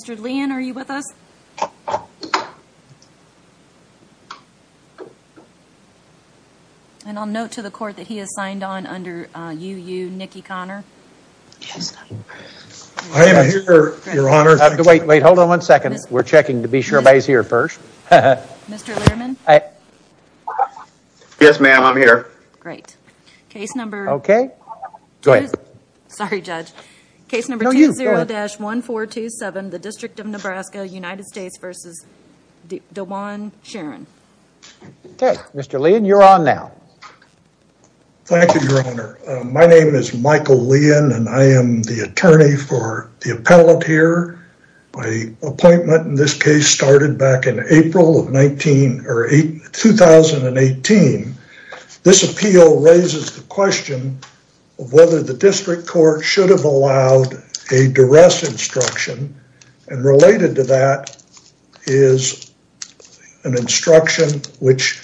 Mr. Leon, are you with us? And I'll note to the court that he is signed on under UU Nikki Conner. I am here, your honor. Wait, wait, hold on one second. We're checking to be sure everybody's here first. Mr. Letterman? Yes, ma'am. I'm here. Great. Case number... Okay. Go ahead. Sorry, judge. Case number 20-1427, the District of Nebraska, United States v. Dajuan Sharron. Okay. Mr. Leon, you're on now. Thank you, your honor. My name is Michael Leon, and I am the attorney for the appellate here. My appointment in this case started back in April of 2018. This appeal raises the question of whether the district court should have allowed a duress instruction, and related to that is an instruction which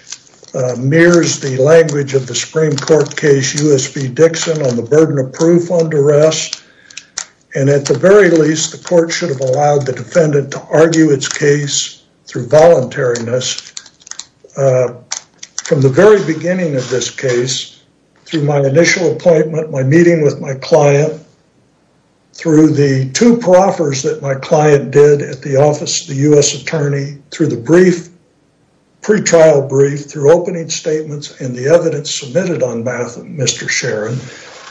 mirrors the language of the Supreme Court case U.S. v. Dixon on the burden of proof on duress. And at the very least, the court should have allowed the defendant to argue its case through the very beginning of this case, through my initial appointment, my meeting with my client, through the two proffers that my client did at the office of the U.S. attorney, through the brief, pre-trial brief, through opening statements and the evidence submitted on behalf of Mr. Sharron,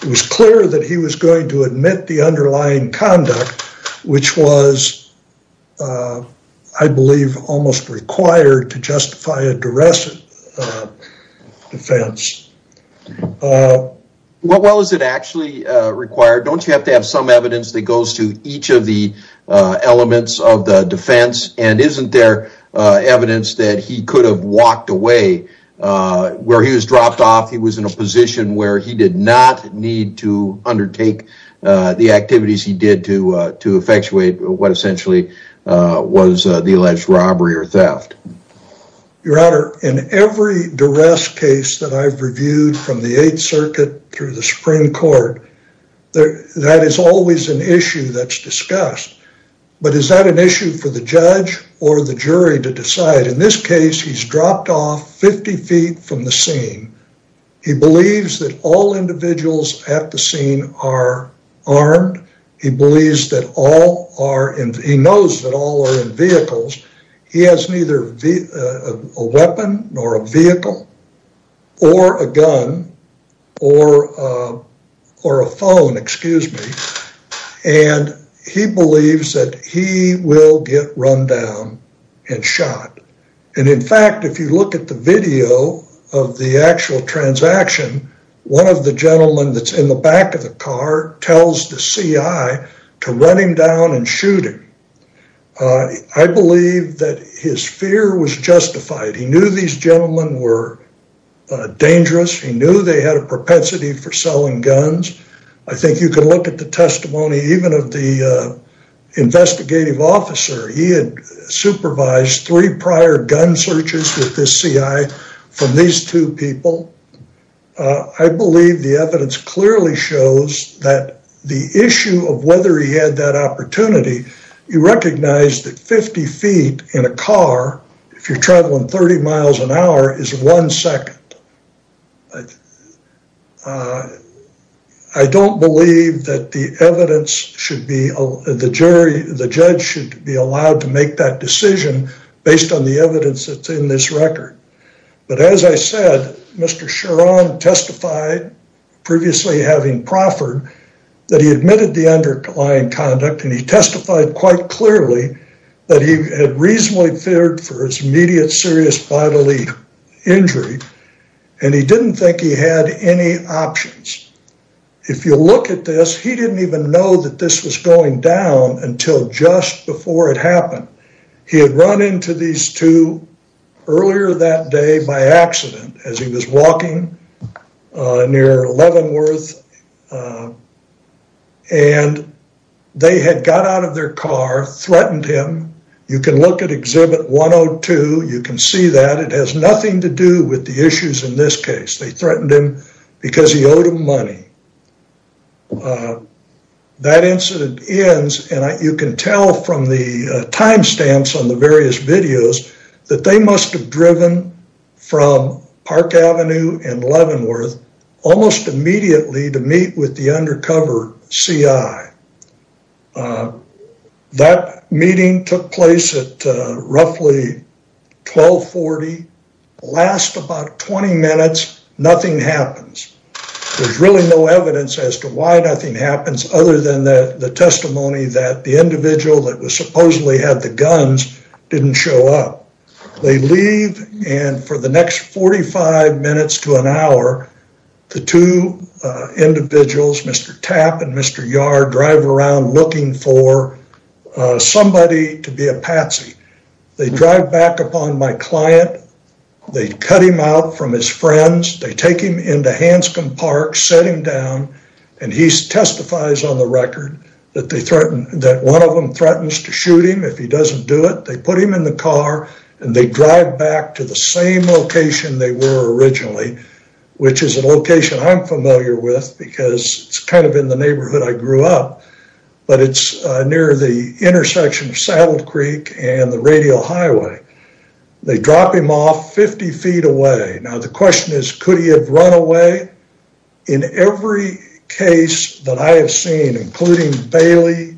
it was clear that he was going to admit the underlying conduct, which was, I believe, almost required to justify a duress defense. What well is it actually required? Don't you have to have some evidence that goes to each of the elements of the defense? And isn't there evidence that he could have walked away? Where he was dropped off, he was in a position where he did not need to undertake the activities he did to effectuate what essentially was the alleged robbery or theft. Your Honor, in every duress case that I've reviewed from the 8th Circuit through the Supreme Court, that is always an issue that's discussed. But is that an issue for the judge or the jury to decide? In this case, he's dropped off 50 feet from the scene. He believes that all individuals at the scene are armed. He believes that all are, he knows that all are in vehicles. He has neither a weapon nor a vehicle or a gun or a phone, excuse me. And he believes that he will get run down and shot. And in fact, if you look at the video of the actual transaction, one of the gentlemen that's in the back of the car tells the CI to run him down and shoot him. I believe that his fear was justified. He knew these gentlemen were dangerous. He knew they had a propensity for selling guns. I think you can look at the testimony even of the investigative officer. He had supervised three prior gun searches with this CI from these two people. I believe the evidence clearly shows that the issue of whether he had that opportunity, you recognize that 50 feet in a car, if you're traveling 30 miles an hour, is one second. I don't believe that the evidence should be, the jury, the judge should be allowed to make that decision based on the evidence that's in this record. But as I said, Mr. Charon testified, previously having proffered, that he admitted the underlying conduct. And he testified quite clearly that he had reasonably feared for his immediate serious bodily injury, and he didn't think he had any options. If you look at this, he didn't even know that this was going down until just before it happened. He had run into these two earlier that day by accident as he was walking near Leavenworth. And they had got out of their car, threatened him. You can look at exhibit 102, you can see that it has nothing to do with the issues in this case. They threatened him because he owed him money. That incident ends, and you can tell from the timestamps on the various videos, that they must have driven from Park Avenue and immediately to meet with the undercover CI. That meeting took place at roughly 1240, last about 20 minutes, nothing happens. There's really no evidence as to why nothing happens other than the testimony that the individual that was supposedly had the guns didn't show up. They leave, and for the next 45 minutes to an hour, the two individuals, Mr. Tapp and Mr. Yard, drive around looking for somebody to be a patsy. They drive back upon my client, they cut him out from his friends, they take him into Hanscom Park, set him down, and he testifies on the record that one of them threatens to shoot him if he doesn't do it. They put him in the car, and they drive back to the same location they were originally, which is a location I'm familiar with because it's kind of in the neighborhood I grew up. But it's near the intersection of Saddle Creek and the radial highway. They drop him off 50 feet away. Now the question is, could he have run away? In every case that I have seen, including Bailey,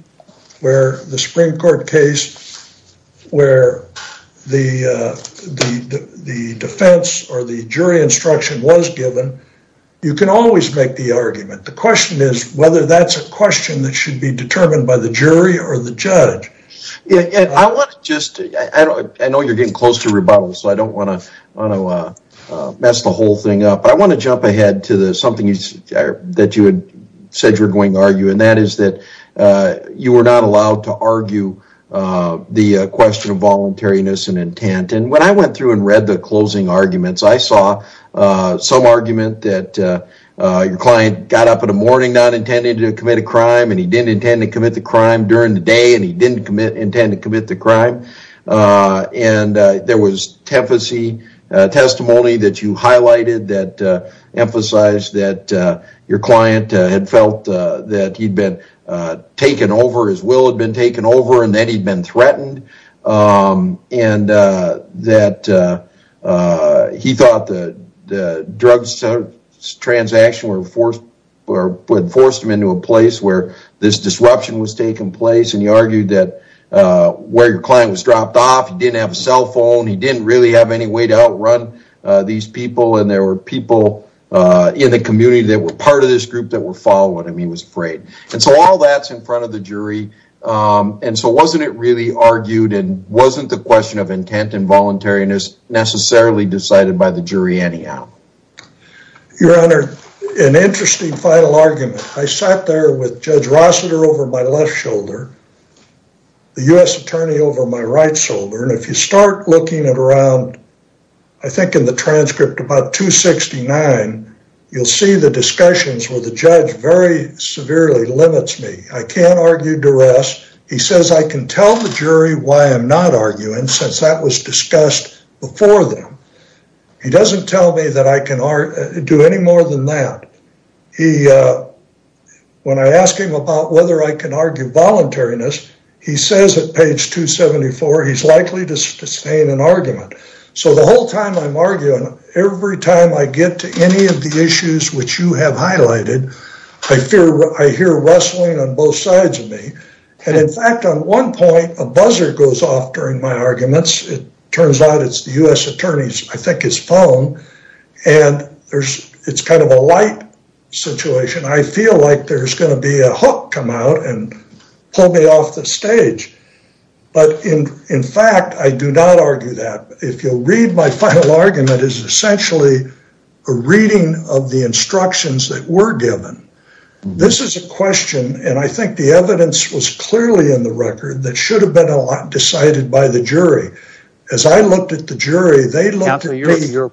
where the Supreme Court case, where the defense or the jury instruction was given, you can always make the argument. The question is whether that's a question that should be determined by the jury or the judge. Yeah, and I want to just, I know you're getting close to rebuttal, so I don't want to mess the whole thing up. But I want to jump ahead to something that you had said you were going to argue, and that is that you were not allowed to argue the question of voluntariness and intent. When I went through and read the closing arguments, I saw some argument that your client got up in the morning not intending to commit a crime, and he didn't intend to commit the crime during the day, and he didn't intend to commit the crime. There was testimony that you highlighted that emphasized that your client had felt that he'd been taken over, his will had been taken over, and that he'd been threatened. That he thought the drug transaction would force him into a place where this disruption was taking place, and you argued that where your client was dropped off, he didn't have a cell phone, he didn't really have any way to outrun these people, and there were people in the community that were part of this group that were following him, he was afraid. And so all that's in front of the jury, and so wasn't it really argued, and wasn't the question of intent and voluntariness necessarily decided by the jury anyhow? Your Honor, an interesting final argument. I sat there with Judge Rossiter over my left shoulder, the U.S. Attorney over my right shoulder, and if you start looking at around, I think in the transcript about 269, you'll see the discussions where the judge very severely limits me. I can't argue duress. He says I can tell the jury why I'm not arguing, since that was discussed before them. He doesn't tell me that I can do any more than that. When I ask him about whether I can argue voluntariness, he says at page 274, he's likely to sustain an argument. So the whole time I'm arguing, every time I get to any of the issues which you have In fact, on one point, a buzzer goes off during my arguments. It turns out it's the U.S. Attorney's, I think his phone, and it's kind of a light situation. I feel like there's going to be a hook come out and pull me off the stage. But in fact, I do not argue that. If you'll read my final argument, it's essentially a reading of the instructions that were given. This is a question, and I think the evidence was clearly in the record, that should have been decided by the jury. As I looked at the jury, they looked at me. You're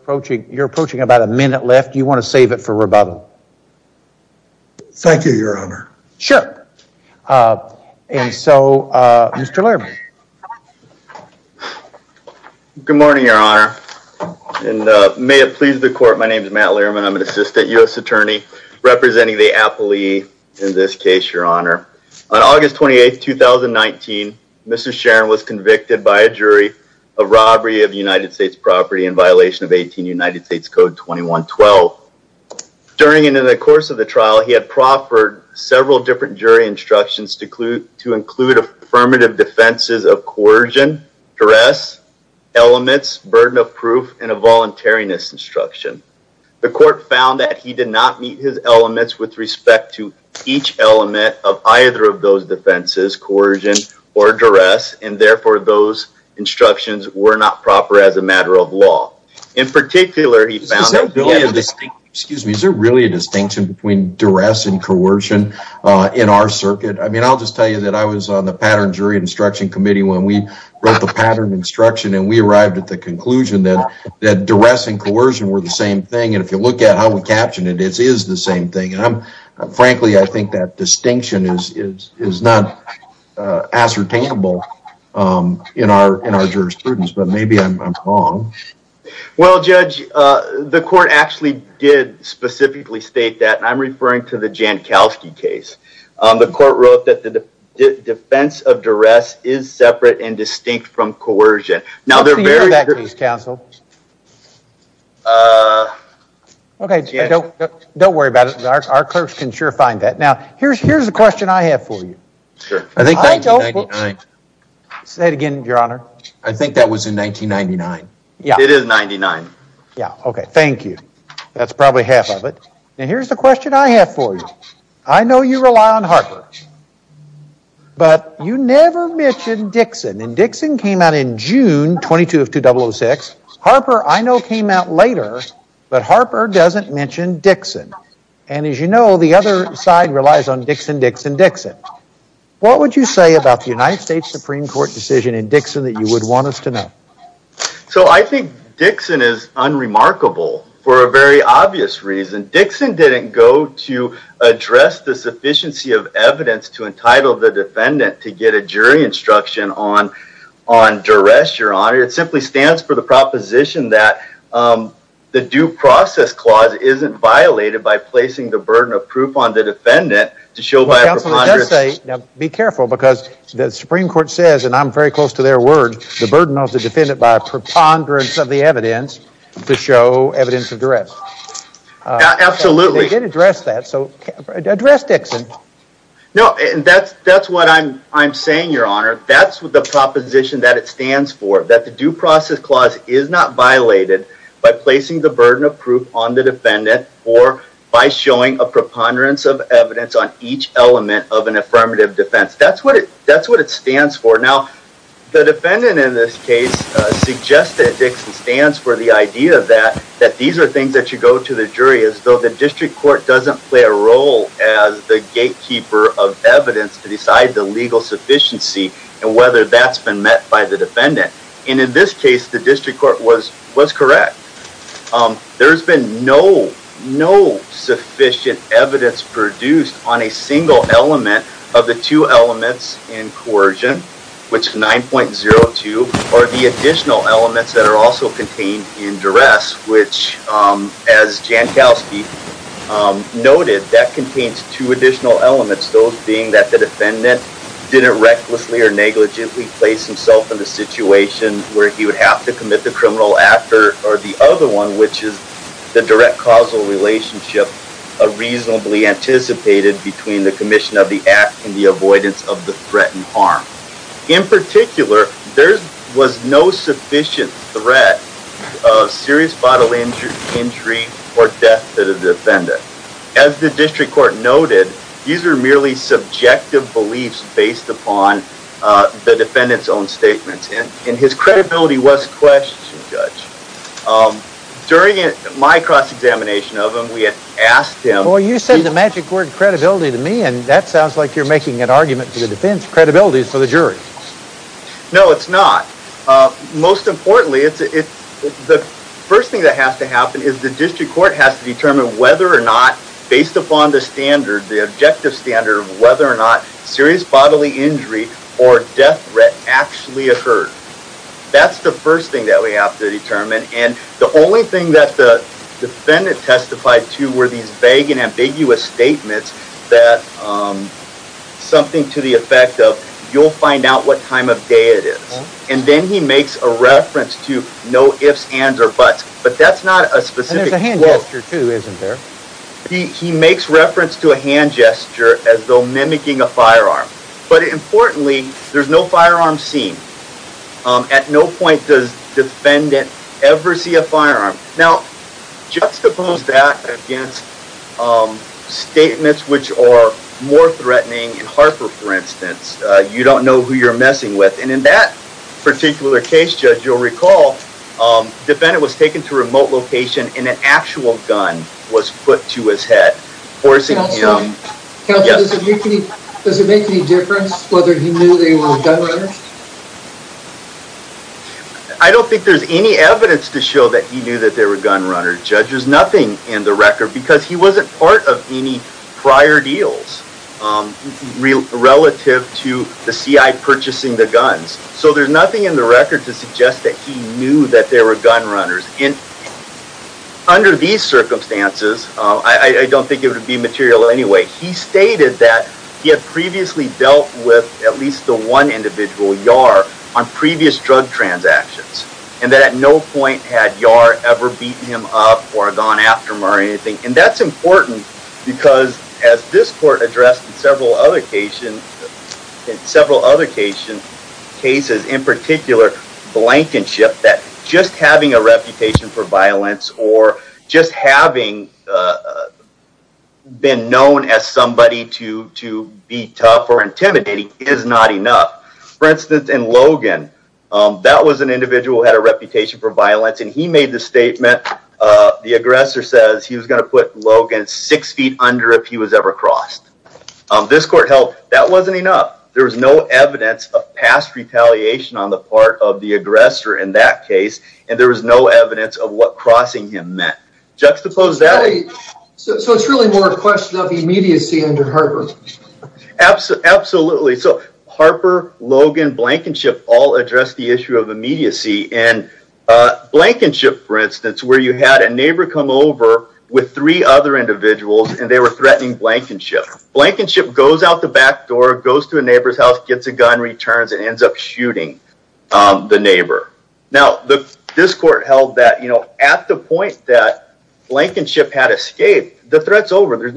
approaching about a minute left. Do you want to save it for rebuttal? Thank you, Your Honor. Sure. And so, Mr. Lehrman. Good morning, Your Honor. And may it please the court, my name is Matt Lehrman. I'm an assistant U.S. Attorney representing the appellee in this case, Your Honor. On August 28, 2019, Mr. Sharon was convicted by a jury of robbery of United States property in violation of 18 United States Code 2112. During and in the course of the trial, he had proffered several different jury instructions to include affirmative defenses of coercion, duress, elements, burden of proof, and a voluntariness instruction. The court found that he did not meet his elements with respect to each element of either of those defenses, coercion or duress, and therefore, those instructions were not proper as a matter of law. In particular, he found... Is there really a distinction between duress and coercion in our circuit? I mean, I'll just tell you that I was on the pattern jury instruction committee when we wrote the pattern instruction, and we arrived at the conclusion that duress and coercion were the same thing. And if you look at how we captioned it, it is the same thing. And frankly, I think that distinction is not ascertainable in our jurisprudence, but maybe I'm wrong. Well, Judge, the court actually did specifically state that. I'm referring to the Jankowski case. The court wrote that the defense of duress is separate and distinct from coercion. Now, they're very... What's the year of that case, counsel? Okay, don't worry about it. Our clerks can sure find that. Now, here's the question I have for you. Say it again, your honor. I think that was in 1999. Yeah. It is 99. Yeah. Okay. Thank you. That's probably half of it. And here's the question I have for you. I know you rely on Harper, but you never mentioned Dixon. And Dixon came out in June 22 of 2006. Harper, I know, came out later, but Harper doesn't mention Dixon. And as you know, the other side relies on Dixon, Dixon, Dixon. What would you say about the United States Supreme Court decision in Dixon that you would want us to know? So I think Dixon is unremarkable for a very obvious reason. Dixon didn't go to address the sufficiency of evidence to entitle the defendant to get jury instruction on duress, your honor. It simply stands for the proposition that the due process clause isn't violated by placing the burden of proof on the defendant to show by a preponderance. Now, be careful because the Supreme Court says, and I'm very close to their word, the burden of the defendant by a preponderance of the evidence to show evidence of duress. Absolutely. They did address that. So address Dixon. No, and that's what I'm saying, your honor. That's what the proposition that it stands for, that the due process clause is not violated by placing the burden of proof on the defendant or by showing a preponderance of evidence on each element of an affirmative defense. That's what it stands for. Now, the defendant in this case suggested that Dixon stands for the idea that these are things that you go to the jury as though the district court doesn't play a role as the gatekeeper of evidence to decide the legal sufficiency and whether that's been met by the defendant. And in this case, the district court was correct. There's been no sufficient evidence produced on a single element of the two elements in coercion, which 9.02 or the additional elements that are also contained in duress, which as Jankowski noted, that contains two additional elements. Those being that the defendant didn't recklessly or negligently place himself in a situation where he would have to commit the criminal actor or the other one, which is the direct causal relationship, a reasonably anticipated between the commission of the act and the avoidance of the threatened harm. In particular, there was no sufficient threat of serious bodily injury or death to the defendant. As the district court noted, these are merely subjective beliefs based upon the defendant's own statements. And his credibility was questioned, Judge. During my cross-examination of him, we had asked him— Well, you said the magic word credibility to me, and that sounds like you're making an argument to the defense. Credibility is for the jury. No, it's not. Most importantly, the first thing that has to happen is the district court has to determine whether or not, based upon the standard, the objective standard of whether or not serious bodily injury or death threat actually occurred. That's the first thing that we have to determine. And the only thing that the defendant testified to were these vague and ambiguous statements that something to the effect of, you'll find out what time of day it is. And then he makes a reference to no ifs, ands, or buts. But that's not a specific quote. And there's a hand gesture too, isn't there? He makes reference to a hand gesture as though mimicking a firearm. But importantly, there's no firearm seen. At no point does defendant ever see a firearm. Now, juxtapose that against statements which are more threatening. In Harper, for instance, you don't know who you're messing with. And in that particular case, Judge, you'll recall, defendant was taken to remote location and an actual gun was put to his head, forcing him. Counselor, does it make any difference whether he knew they were gun runners? I don't think there's any evidence to show that he knew that they were gun runners. Judge, there's nothing in the record, because he wasn't part of any prior deals relative to the CI purchasing the guns. So there's nothing in the record to suggest that he knew that they were gun runners. And under these circumstances, I don't think it would be material anyway. He stated that he had previously dealt with at least the one individual on previous drug transactions. And that at no point had Yar ever beaten him up or gone after him or anything. And that's important, because as this court addressed in several other cases in particular, blankenship, that just having a reputation for violence or just having been known as somebody to be tough or intimidating is not enough. For instance, in Logan, that was an individual who had a reputation for violence. And he made the statement, the aggressor says he was going to put Logan six feet under if he was ever crossed. This court held that wasn't enough. There was no evidence of past retaliation on the part of the aggressor in that case. And there was no evidence of what crossing him meant. So it's really more a question of immediacy under Harper. Absolutely. So Harper, Logan, blankenship all address the issue of immediacy. And blankenship, for instance, where you had a neighbor come over with three other individuals and they were threatening blankenship. Blankenship goes out the back door, goes to a neighbor's house, gets a gun, returns and ends up shooting the neighbor. Now, this court held that at the point that blankenship had escaped, the threat's over. There's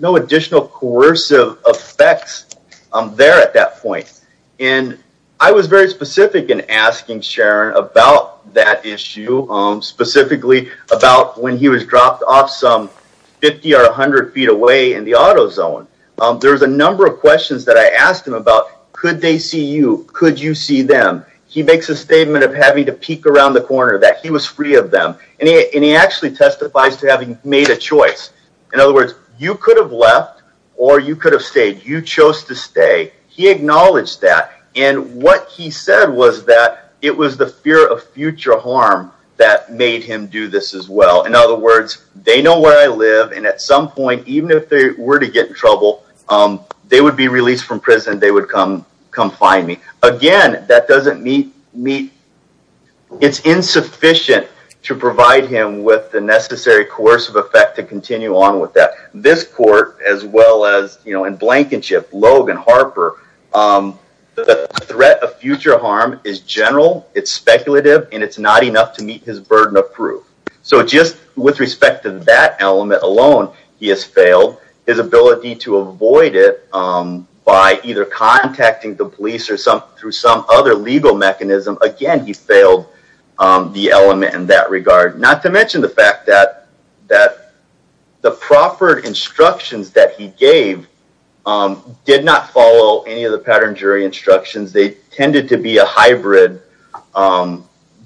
no additional coercive effects there at that point. And I was very specific in asking Sharon about that issue, specifically about when he was dropped off some 50 or 100 feet away in the auto zone. There was a number of questions that I asked him about, could they see you? Could you see them? He makes a statement of having to peek around the corner that he was free of them. And he actually testifies to having made a choice. In other words, you could have left or you could have stayed. You chose to stay. He acknowledged that. And what he said was that it was the fear of future harm that made him do this as well. In other words, they know where I live. And at some point, even if they were to get in trouble, they would be released from prison. They would come find me. Again, that doesn't meet, it's insufficient to provide him with the necessary coercive effect to continue on with that. This court, as well as in Blankenship, Logan, Harper, the threat of future harm is general, it's speculative, and it's not enough to meet his burden of proof. So just with respect to that element alone, he has failed. His ability to avoid it by either contacting the police or through some other legal mechanism, again, he failed the element in that regard. Not to mention the fact that the proper instructions that he gave did not follow any of the pattern jury instructions. They tended to be a hybrid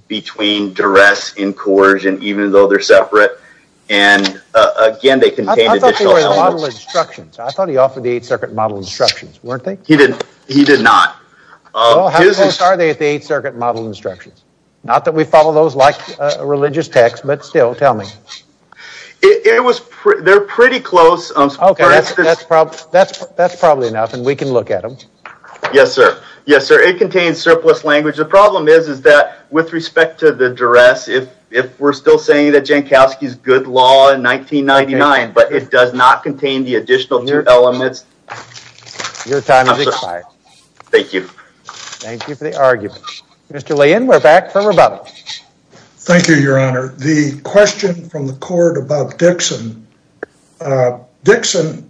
between duress and coercion, even though they're separate. And again, they contained additional elements. I thought they were the model instructions. I thought he offered the Eighth Circuit model instructions, weren't they? He did not. Well, how close are they at the Eighth Circuit model instructions? Not that we follow those like a religious text, but still, tell me. They're pretty close. That's probably enough, and we can look at them. Yes, sir. Yes, sir. It contains surplus language. The problem is that with respect to the duress, if we're still saying that Jankowski's good law in 1999, but it does not contain the additional two elements. Your time has expired. Thank you. Thank you for the argument. Mr. Lane, we're back for rebuttal. Thank you, Your Honor. The question from the court about Dixon, Dixon,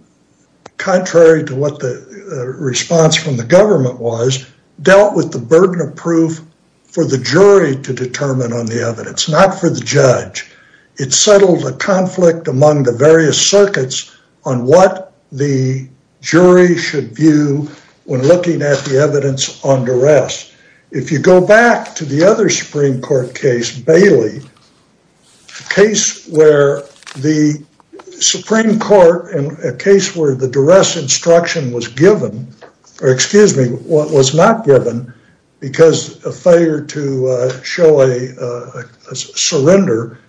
contrary to what the response from the government was, dealt with the burden of proof for the jury to determine on the evidence, not for the judge. It settled a conflict among the various circuits on what the jury should view when looking at the evidence on duress. If you go back to the other Supreme Court case, Bailey, a case where the Supreme Court in a case where the duress instruction was given, or excuse me, what was not given because a failure to show a surrender,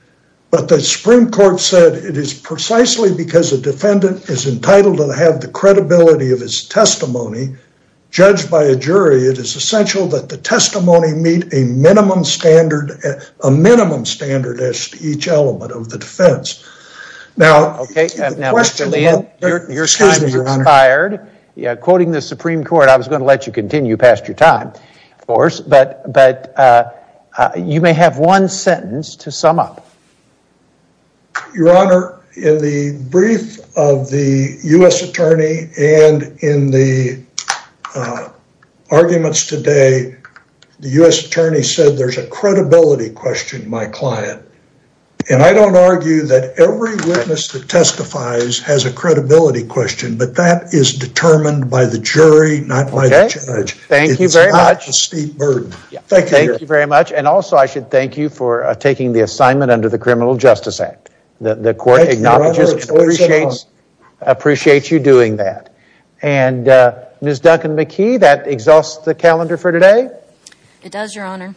but the Supreme Court said it is precisely because a defendant is entitled to have the testimony meet a minimum standard, a minimum standard as to each element of the defense. Now, okay, now Mr. Lane, your time has expired. Quoting the Supreme Court, I was going to let you continue past your time, of course, but you may have one sentence to sum up. Your Honor, in the brief of the U.S. attorney and in the arguments today, the U.S. attorney said there's a credibility question my client, and I don't argue that every witness that testifies has a credibility question, but that is determined by the jury, not by the judge. Thank you very much. It's not a steep burden. Thank you. Thank you very much. Also, I should thank you for taking the assignment under the Criminal Justice Act. The court acknowledges and appreciates you doing that. Ms. Duncan-McKee, that exhausts the calendar for today? It does, Your Honor.